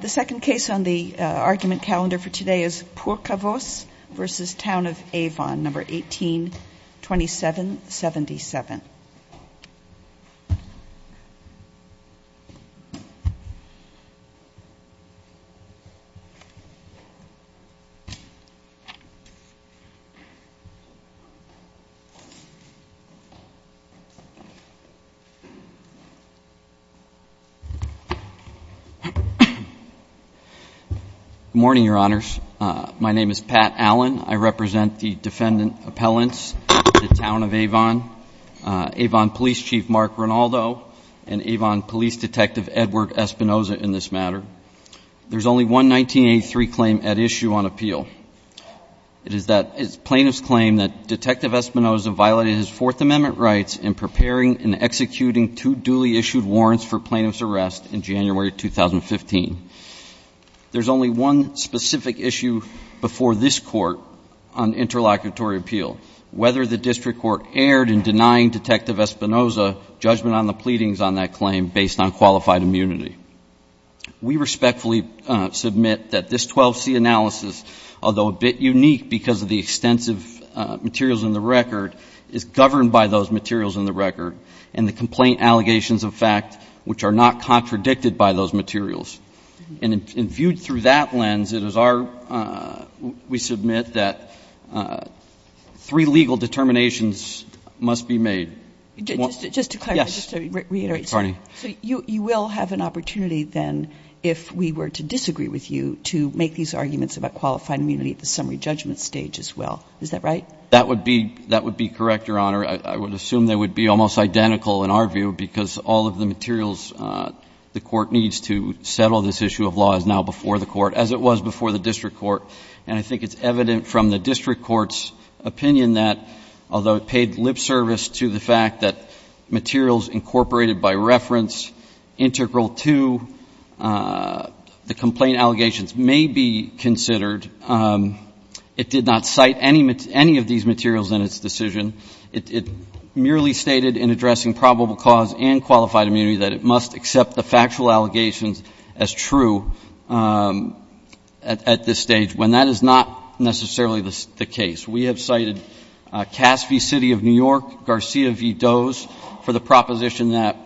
The second case on the argument calendar for today is Purkavoos v. Town of Avon, No. 18-2777. Good morning, Your Honors. My name is Pat Allen. I represent the defendant appellants, the Town of Avon, Avon Police Chief Mark Rinaldo, and Avon Police Detective Edward Espinoza in this matter. There's only one 1983 claim at issue on appeal. It is plaintiff's claim that Detective Espinoza violated his Fourth Amendment rights in preparing and executing two duly issued warrants for plaintiff's arrest in January 2015. There's only one specific issue before this Court on interlocutory appeal, whether the District Court erred in denying Detective Espinoza judgment on the pleadings on that claim based on qualified immunity. We respectfully submit that this 12C analysis, although a bit unique because of the extensive materials in the record, is governed by those materials in the record and the complaint allegations of fact which are not contradicted by those materials. And viewed through that lens, it is our ‑‑ we submit that three legal determinations must be made. Just to clarify, just to reiterate, so you will have an opportunity then if we were to disagree with you to make these arguments about qualified immunity at the summary judgment stage as well. Is that right? That would be correct, Your Honor. I would assume they would be almost identical in our view because all of the materials the Court needs to settle this issue of law is now before the Court as it was before the District Court. And I think it's evident from the District Court's opinion that although it paid lip service to the fact that materials incorporated by reference integral to the complaint allegations may be considered, it did not cite any of these materials in its decision. It merely stated in addressing probable cause and qualified immunity that it must accept the factual allegations as true at this stage when that is not necessarily the case. We have cited Cass v. City of New York, Garcia v. Does for the proposition that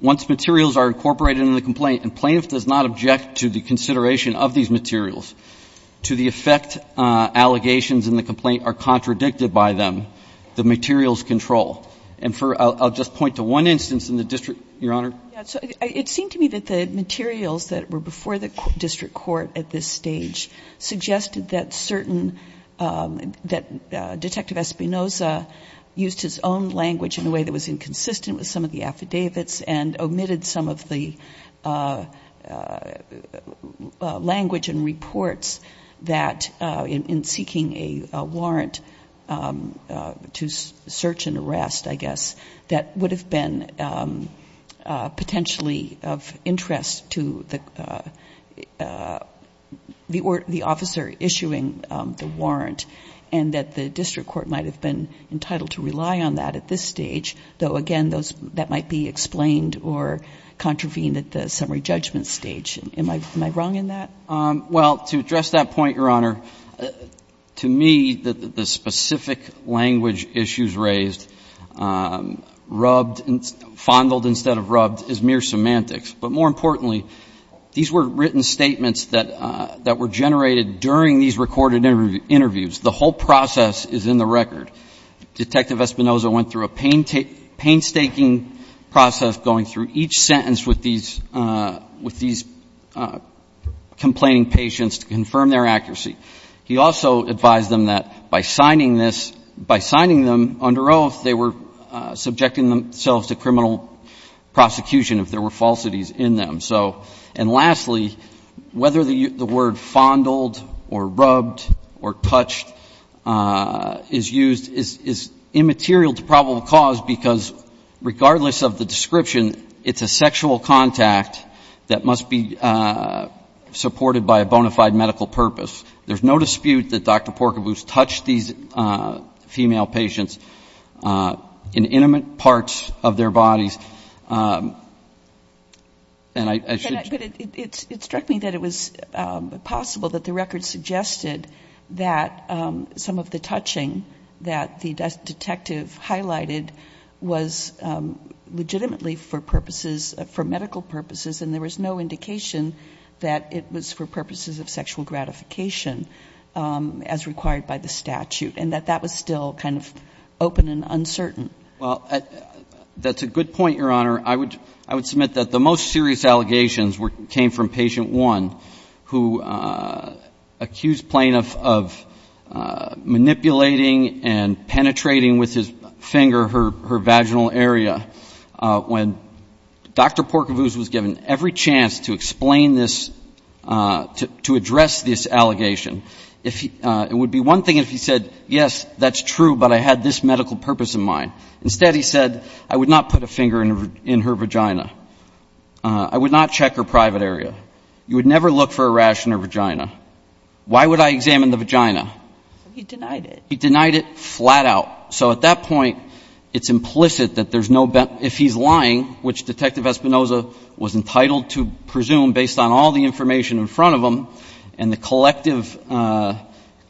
once materials are incorporated in the complaint and plaintiff does not object to the consideration of these materials, to the effect allegations in the complaint are contradicted by them, the materials control. And I'll just point to one instance in the District, Your Honor. It seemed to me that the materials that were before the District Court at this stage suggested that certain, that Detective Espinoza used his own language in a way that was inconsistent with some of the affidavits and omitted some of the language and reports that in seeking a warrant to search and arrest, I guess, that would have been potentially of interest to the officer issuing the warrant and that the District Court might have been entitled to rely on that at this stage, though, again, that might be explained or contravened at the summary judgment stage. Am I wrong in that? Well, to address that point, Your Honor, to me, the specific language issues raised, rubbed, fondled instead of rubbed, is mere semantics. But more importantly, these were written statements that were generated during these recorded interviews. The whole process is in the record. Detective Espinoza went through a painstaking process going through each sentence with these complaining patients to confirm their accuracy. He also advised them that by signing this, by signing them under oath, they were subjecting themselves to criminal prosecution if there were falsities in them. So, and lastly, whether the word fondled or rubbed or touched is used is immaterial to probable cause because regardless of the description, it's a sexual contact that must be supported by a bona fide medical purpose. There's no dispute that Dr. Porcaboose touched these female patients in intimate parts of their bodies. And I should... But it struck me that it was possible that the record suggested that some of the touching that the detective highlighted was legitimately for purposes, for medical purposes, and there was no indication that it was for purposes of sexual gratification as required by the statute, and that that was still kind of open and uncertain. Well, that's a good point, Your Honor. I would submit that the most serious allegations came from Patient 1, who accused Plaintiff of manipulating and penetrating with his finger her vaginal area. When Dr. Porcaboose was given every chance to explain this, to address this allegation, it would be one thing if he said, yes, that's true, but I had this medical purpose in mind. Instead, he said, I would not put a finger in her vagina. I would not check her private area. You would never look for a rash in her vagina. Why would I examine the vagina? He denied it. He denied it flat out. So at that point, it's implicit that there's no... But if he's lying, which Detective Espinoza was entitled to presume based on all the information in front of him and the collective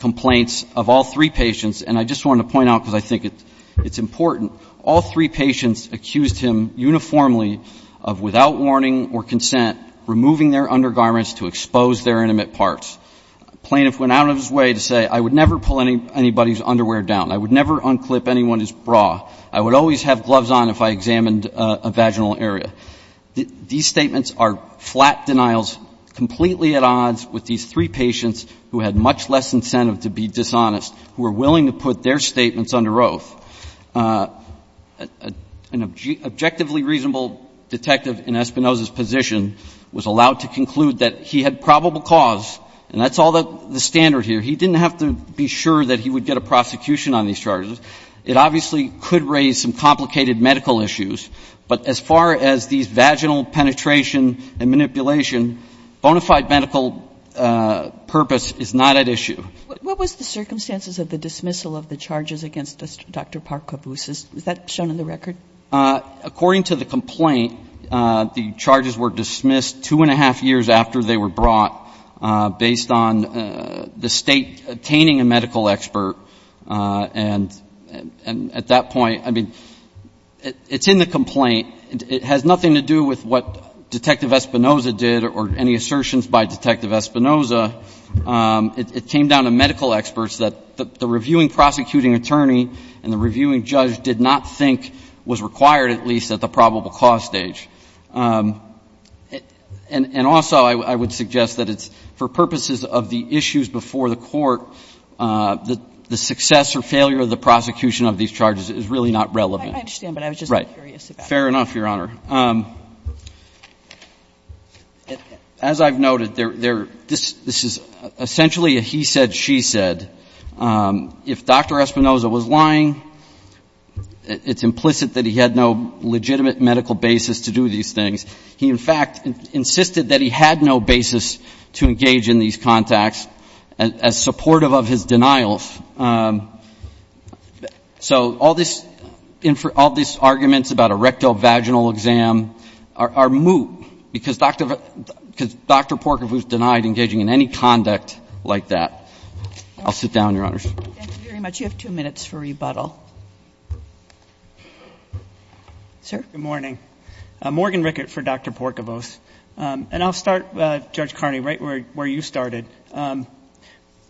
complaints of all three patients, and I just wanted to point out because I think it's important, all three patients accused him uniformly of without warning or consent removing their undergarments to expose their intimate parts. A plaintiff went out of his way to say, I would never pull anybody's underwear down. I would never unclip anyone's bra. I would always have gloves on if I examined a vaginal area. These statements are flat denials, completely at odds with these three patients who had much less incentive to be dishonest, who were willing to put their statements under oath. An objectively reasonable detective in Espinoza's position was allowed to conclude that he had probable cause, and that's all the standard here. He didn't have to be sure that he would get a prosecution on these charges. It obviously could raise some complicated medical issues. But as far as these vaginal penetration and manipulation, bona fide medical purpose is not at issue. What was the circumstances of the dismissal of the charges against Dr. Park-Caboose? Is that shown in the record? According to the complaint, the charges were dismissed two and a half years after they were brought based on the State obtaining a medical expert. And at that point, I mean, it's in the complaint. It has nothing to do with what Detective Espinoza did or any assertions by Detective Espinoza. It came down to medical experts that the reviewing prosecuting attorney and the reviewing judge did not think was required, at least at the probable cause stage. And also I would suggest that it's for purposes of the issues before the court, the success or failure of the prosecution of these charges is really not relevant. I understand, but I was just curious about that. Fair enough, Your Honor. As I've noted, this is essentially a he said, she said. If Dr. Espinoza was lying, it's implicit that he had no legitimate medical basis to do these things. He, in fact, insisted that he had no basis to engage in these contacts as supportive of his denials. So all this arguments about a rectovaginal exam are moot because Dr. Park-Caboose denied engaging in any conduct like that. I'll sit down, Your Honor. Thank you very much. You have two minutes for rebuttal. Sir? Good morning. Morgan Rickert for Dr. Park-Caboose. And I'll start, Judge Carney, right where you started,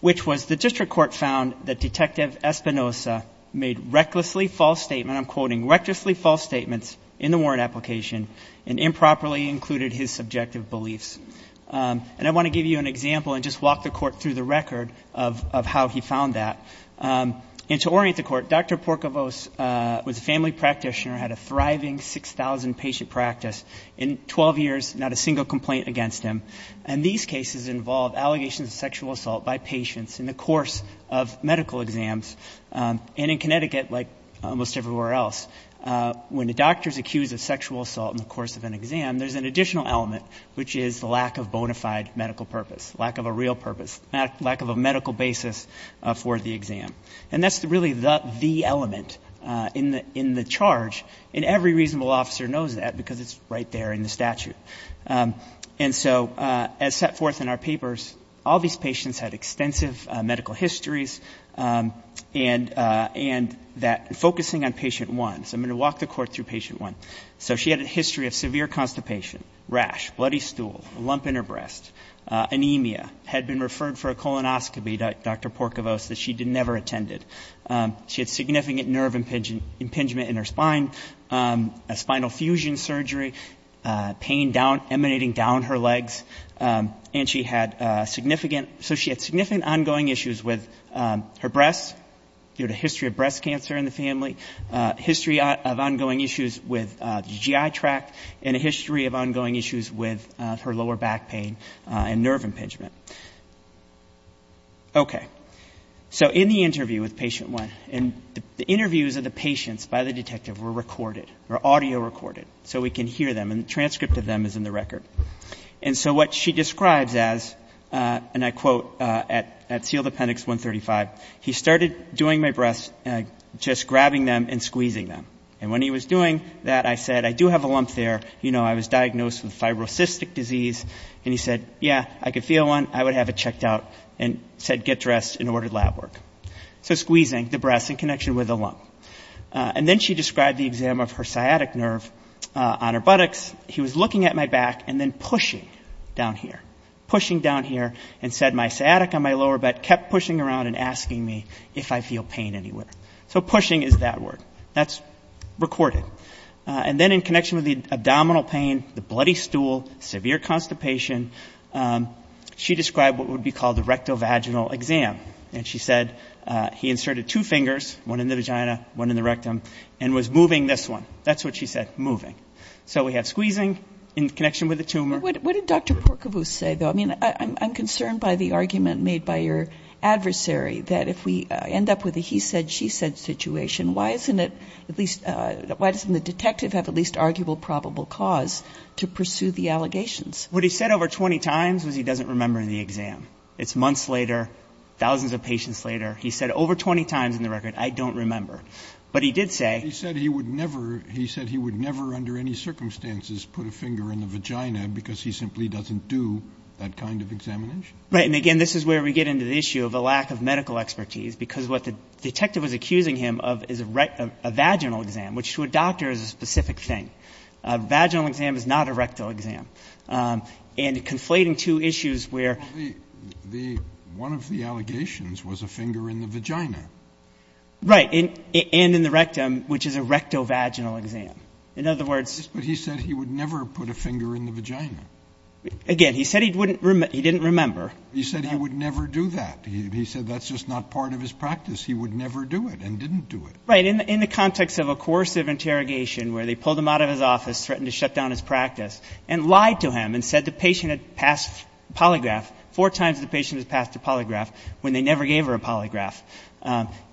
which was the district court found that Detective Espinoza made recklessly false statements, I'm quoting, recklessly false statements in the warrant application and improperly included his subjective beliefs. And I want to give you an example and just walk the court through the record of how he found that. And to orient the court, Dr. Park-Caboose was a family practitioner, had a thriving 6,000 patient practice. In 12 years, not a single complaint against him. And these cases involve allegations of sexual assault by patients in the course of medical exams. And in Connecticut, like almost everywhere else, when the doctor is accused of sexual assault in the course of an exam, there's an additional element, which is the lack of bona fide medical purpose, lack of a real purpose, lack of a medical basis for the exam. And that's really the element in the charge. And every reasonable officer knows that because it's right there in the statute. And so as set forth in our papers, all these patients had extensive medical histories and that focusing on patient one. So I'm going to walk the court through patient one. So she had a history of severe constipation, rash, bloody stool, a lump in her breast, anemia, had been referred for a colonoscopy, Dr. Park-Caboose, that she never attended. She had significant nerve impingement in her spine, a spinal fusion surgery, pain down, emanating down her legs. And she had significant ongoing issues with her breasts due to history of breast cancer in the family, history of ongoing issues with the GI tract, and a history of ongoing issues with her lower back pain and nerve impingement. Okay. So in the interview with patient one, and the interviews of the patients by the detective were recorded, were audio recorded, so we can hear them, and the transcript of them is in the record. And so what she describes as, and I quote at seal appendix 135, he started doing my breasts, just grabbing them and squeezing them. And when he was doing that, I said, I do have a lump there. You know, I was diagnosed with fibrocystic disease. And he said, yeah, I could feel one, I would have it checked out, and said get dressed and order lab work. So squeezing the breasts in connection with the lump. And then she described the exam of her sciatic nerve on her buttocks. He was looking at my back and then pushing down here, pushing down here, and said my sciatic on my lower back kept pushing around and asking me if I feel pain anywhere. So pushing is that word. That's recorded. And then in connection with the abdominal pain, the bloody stool, severe constipation, she described what would be called the rectovaginal exam. And she said he inserted two fingers, one in the vagina, one in the rectum, and was moving this one. That's what she said, moving. So we have squeezing in connection with the tumor. What did Dr. Porcovus say, though? I mean, I'm concerned by the argument made by your adversary that if we end up with a he said, she said situation, why isn't it at least why doesn't the detective have at least arguable probable cause to pursue the allegations? What he said over 20 times was he doesn't remember in the exam. It's months later, thousands of patients later. He said over 20 times in the record, I don't remember. But he did say. He said he would never he said he would never under any circumstances put a finger in the vagina because he simply doesn't do that kind of examination. Right. And again, this is where we get into the issue of a lack of medical expertise, because what the detective was accusing him of is a vaginal exam, which to a doctor is a specific thing. Vaginal exam is not a rectal exam. And conflating two issues where the one of the allegations was a finger in the vagina. Right. And in the rectum, which is a rectal vaginal exam. In other words, he said he would never put a finger in the vagina again. He said he wouldn't. He didn't remember. He said he would never do that. He said that's just not part of his practice. He would never do it and didn't do it right in the context of a course of interrogation where they pulled him out of his office, threatened to shut down his practice and lied to him and said the patient had passed polygraph four times. The patient has passed a polygraph when they never gave her a polygraph.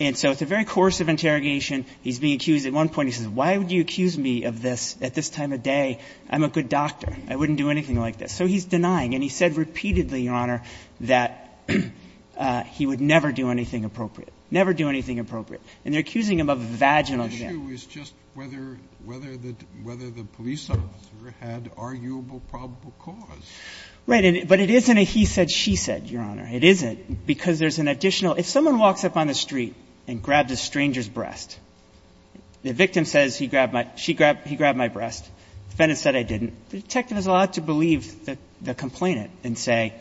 And so at the very course of interrogation, he's being accused at one point, he says, why would you accuse me of this at this time of day? I'm a good doctor. I wouldn't do anything like this. So he's denying. And he said repeatedly, Your Honor, that he would never do anything appropriate. Never do anything appropriate. And they're accusing him of a vaginal exam. The issue is just whether the police officer had arguable probable cause. Right. But it isn't a he said, she said, Your Honor. It isn't. Because there's an additional. If someone walks up on the street and grabs a stranger's breast, the victim says he grabbed my breast. The defendant said I didn't. The detective is allowed to believe the complainant and say,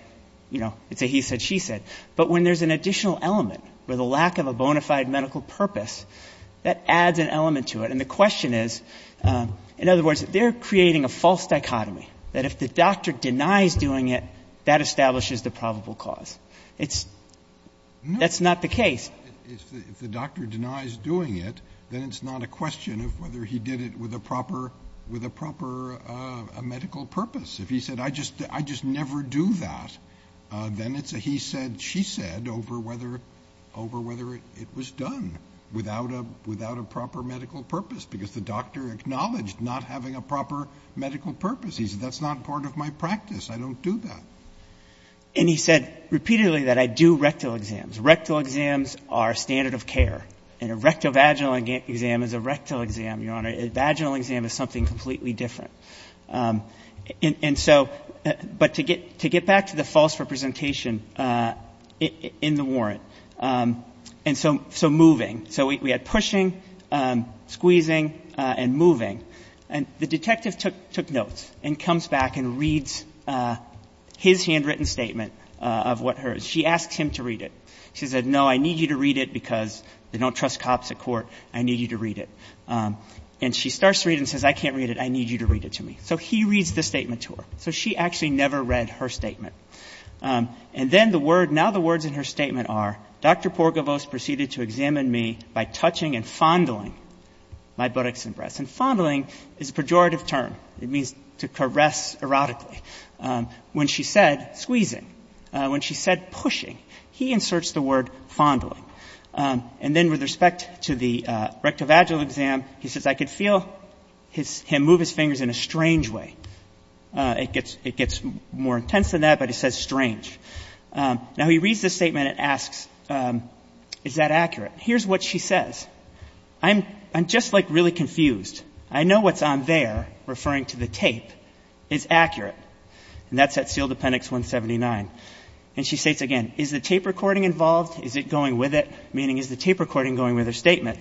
you know, it's a he said, she said. But when there's an additional element where the lack of a bona fide medical purpose, that adds an element to it. And the question is, in other words, they're creating a false dichotomy that if the doctor denies doing it, that establishes the probable cause. That's not the case. If the doctor denies doing it, then it's not a question of whether he did it with a proper medical purpose. If he said I just never do that, then it's a he said, she said over whether it was done without a proper medical purpose. Because the doctor acknowledged not having a proper medical purpose. He said that's not part of my practice. I don't do that. And he said repeatedly that I do rectal exams. Rectal exams are standard of care. And a rectovaginal exam is a rectal exam, Your Honor. A vaginal exam is something completely different. And so but to get back to the false representation in the warrant, and so moving. So we had pushing, squeezing, and moving. And the detective took notes and comes back and reads his handwritten statement of what hers. She asks him to read it. She said, no, I need you to read it because they don't trust cops at court. I need you to read it. And she starts to read it and says, I can't read it. I need you to read it to me. So he reads the statement to her. So she actually never read her statement. And then the word, now the words in her statement are, Dr. Porgovos proceeded to examine me by touching and fondling my buttocks and breasts. And fondling is a pejorative term. It means to caress erotically. When she said squeezing, when she said pushing, he inserts the word fondling. And then with respect to the rectovaginal exam, he says, I could feel him move his fingers in a strange way. It gets more intense than that, but he says strange. Now he reads the statement and asks, is that accurate? Here's what she says. I'm just, like, really confused. I know what's on there, referring to the tape, is accurate. And that's at sealed appendix 179. And she states again, is the tape recording involved? Is it going with it? Meaning, is the tape recording going with her statement?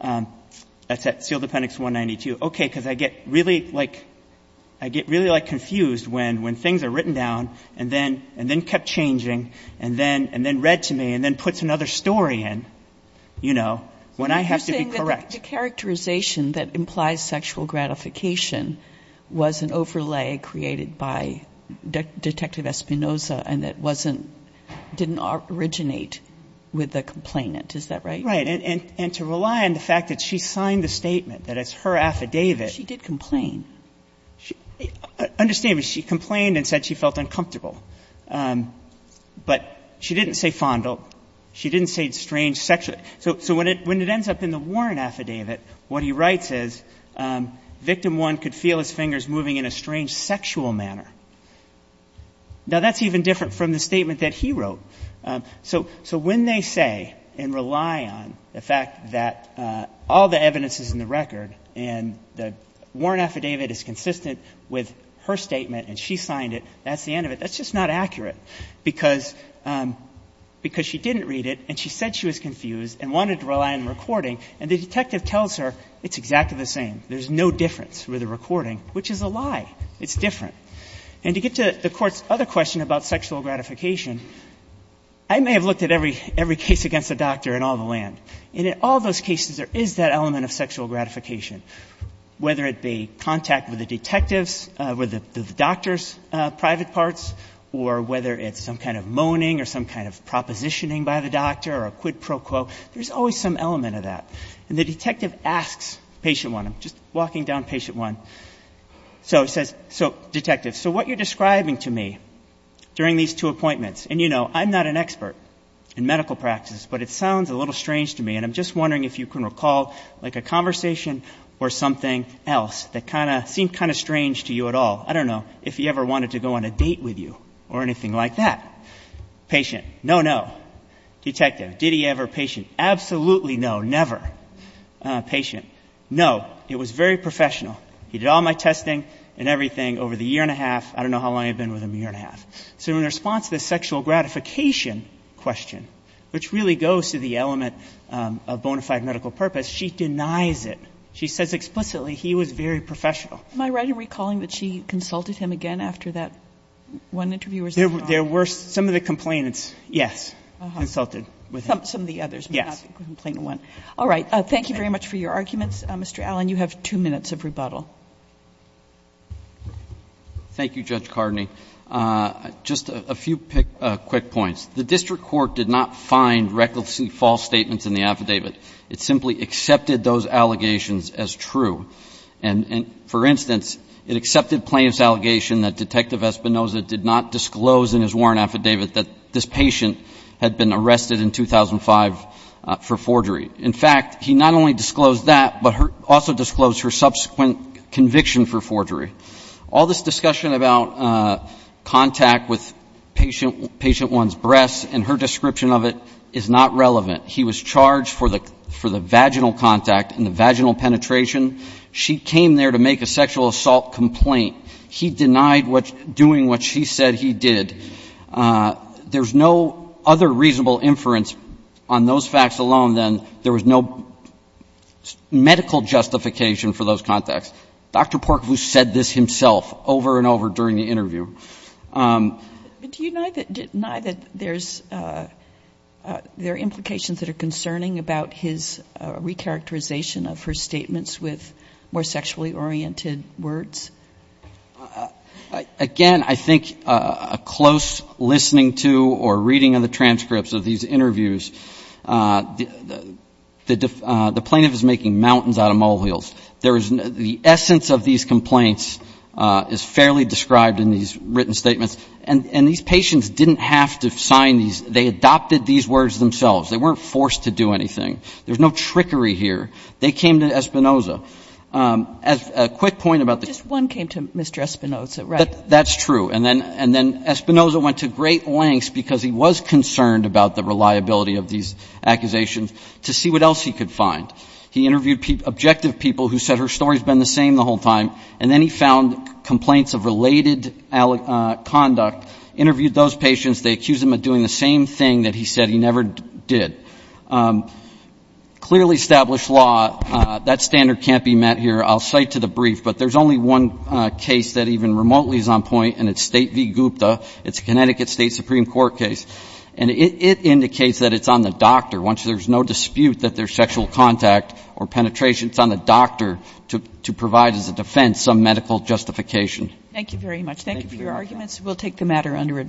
That's at sealed appendix 192. Okay, because I get really, like, I get really, like, confused when things are written down and then kept changing and then read to me and then puts another story in, you know, when I have to be correct. So you're saying that the characterization that implies sexual gratification was an overlay created by Detective Espinoza and that wasn't, didn't originate with the complainant. Is that right? Right. And to rely on the fact that she signed the statement, that it's her affidavit. She did complain. Understand, she complained and said she felt uncomfortable. But she didn't say fondle. She didn't say strange sexual. So when it ends up in the Warren affidavit, what he writes is, victim one could feel his fingers moving in a strange sexual manner. Now, that's even different from the statement that he wrote. So when they say and rely on the fact that all the evidence is in the record and the Warren affidavit is consistent with her statement and she signed it, that's the end of it, that's just not accurate because she didn't read it and she said she was confused and wanted to rely on the recording and the detective tells her it's exactly the same. There's no difference with the recording, which is a lie. It's different. And to get to the Court's other question about sexual gratification, I may have looked at every case against the doctor in all the land. And in all those cases, there is that element of sexual gratification, whether it be contact with the detectives, with the doctor's private parts, or whether it's some kind of moaning or some kind of propositioning by the doctor or a quid pro quo. There's always some element of that. And the detective asks patient one. I'm just walking down patient one. So he says, so, detective, so what you're describing to me during these two appointments, and, you know, I'm not an expert in medical practice, but it sounds a little strange to me, and I'm just wondering if you can recall like a conversation or something else that seemed kind of strange to you at all. I don't know if he ever wanted to go on a date with you or anything like that. Patient, no, no. Detective, did he ever? Patient, absolutely no, never. Patient, no, it was very professional. He did all my testing and everything over the year and a half. I don't know how long I've been with him, a year and a half. So in response to the sexual gratification question, which really goes to the element of bona fide medical purpose, she denies it. She says explicitly he was very professional. Am I right in recalling that she consulted him again after that one interview? There were some of the complainants, yes, consulted with him. Some of the others. Yes. All right. Thank you very much for your arguments. Mr. Allen, you have two minutes of rebuttal. Thank you, Judge Cardney. Just a few quick points. The district court did not find recklessly false statements in the affidavit. It simply accepted those allegations as true. And, for instance, it accepted plaintiff's allegation that Detective Espinosa did not disclose in his warrant affidavit that this patient had been arrested in 2005 for forgery. In fact, he not only disclosed that, but also disclosed her subsequent conviction for forgery. All this discussion about contact with patient one's breasts and her description of it is not relevant. He was charged for the vaginal contact and the vaginal penetration. She came there to make a sexual assault complaint. He denied doing what she said he did. There's no other reasonable inference on those facts alone than there was no medical justification for those contacts. Dr. Porkvoo said this himself over and over during the interview. But do you deny that there's, there are implications that are concerning about his recharacterization of her statements with more sexually oriented words? Again, I think a close listening to or reading of the transcripts of these interviews, the plaintiff is making mountains out of molehills. There is, the essence of these complaints is fairly described in these written statements. And these patients didn't have to sign these. They adopted these words themselves. They weren't forced to do anything. There's no trickery here. They came to Espinoza. As a quick point about the ---- One came to Mr. Espinoza, right? That's true. And then Espinoza went to great lengths because he was concerned about the reliability of these accusations to see what else he could find. He interviewed objective people who said her story's been the same the whole time. And then he found complaints of related conduct, interviewed those patients. They accused him of doing the same thing that he said he never did. Clearly established law, that standard can't be met here. I'll cite to the brief, but there's only one case that even remotely is on point, and it's State v. Gupta. It's a Connecticut State Supreme Court case. And it indicates that it's on the doctor. Once there's no dispute that there's sexual contact or penetration, it's on the doctor to provide as a defense some medical justification. Thank you very much. Thank you for your arguments. We'll take the matter under advisory.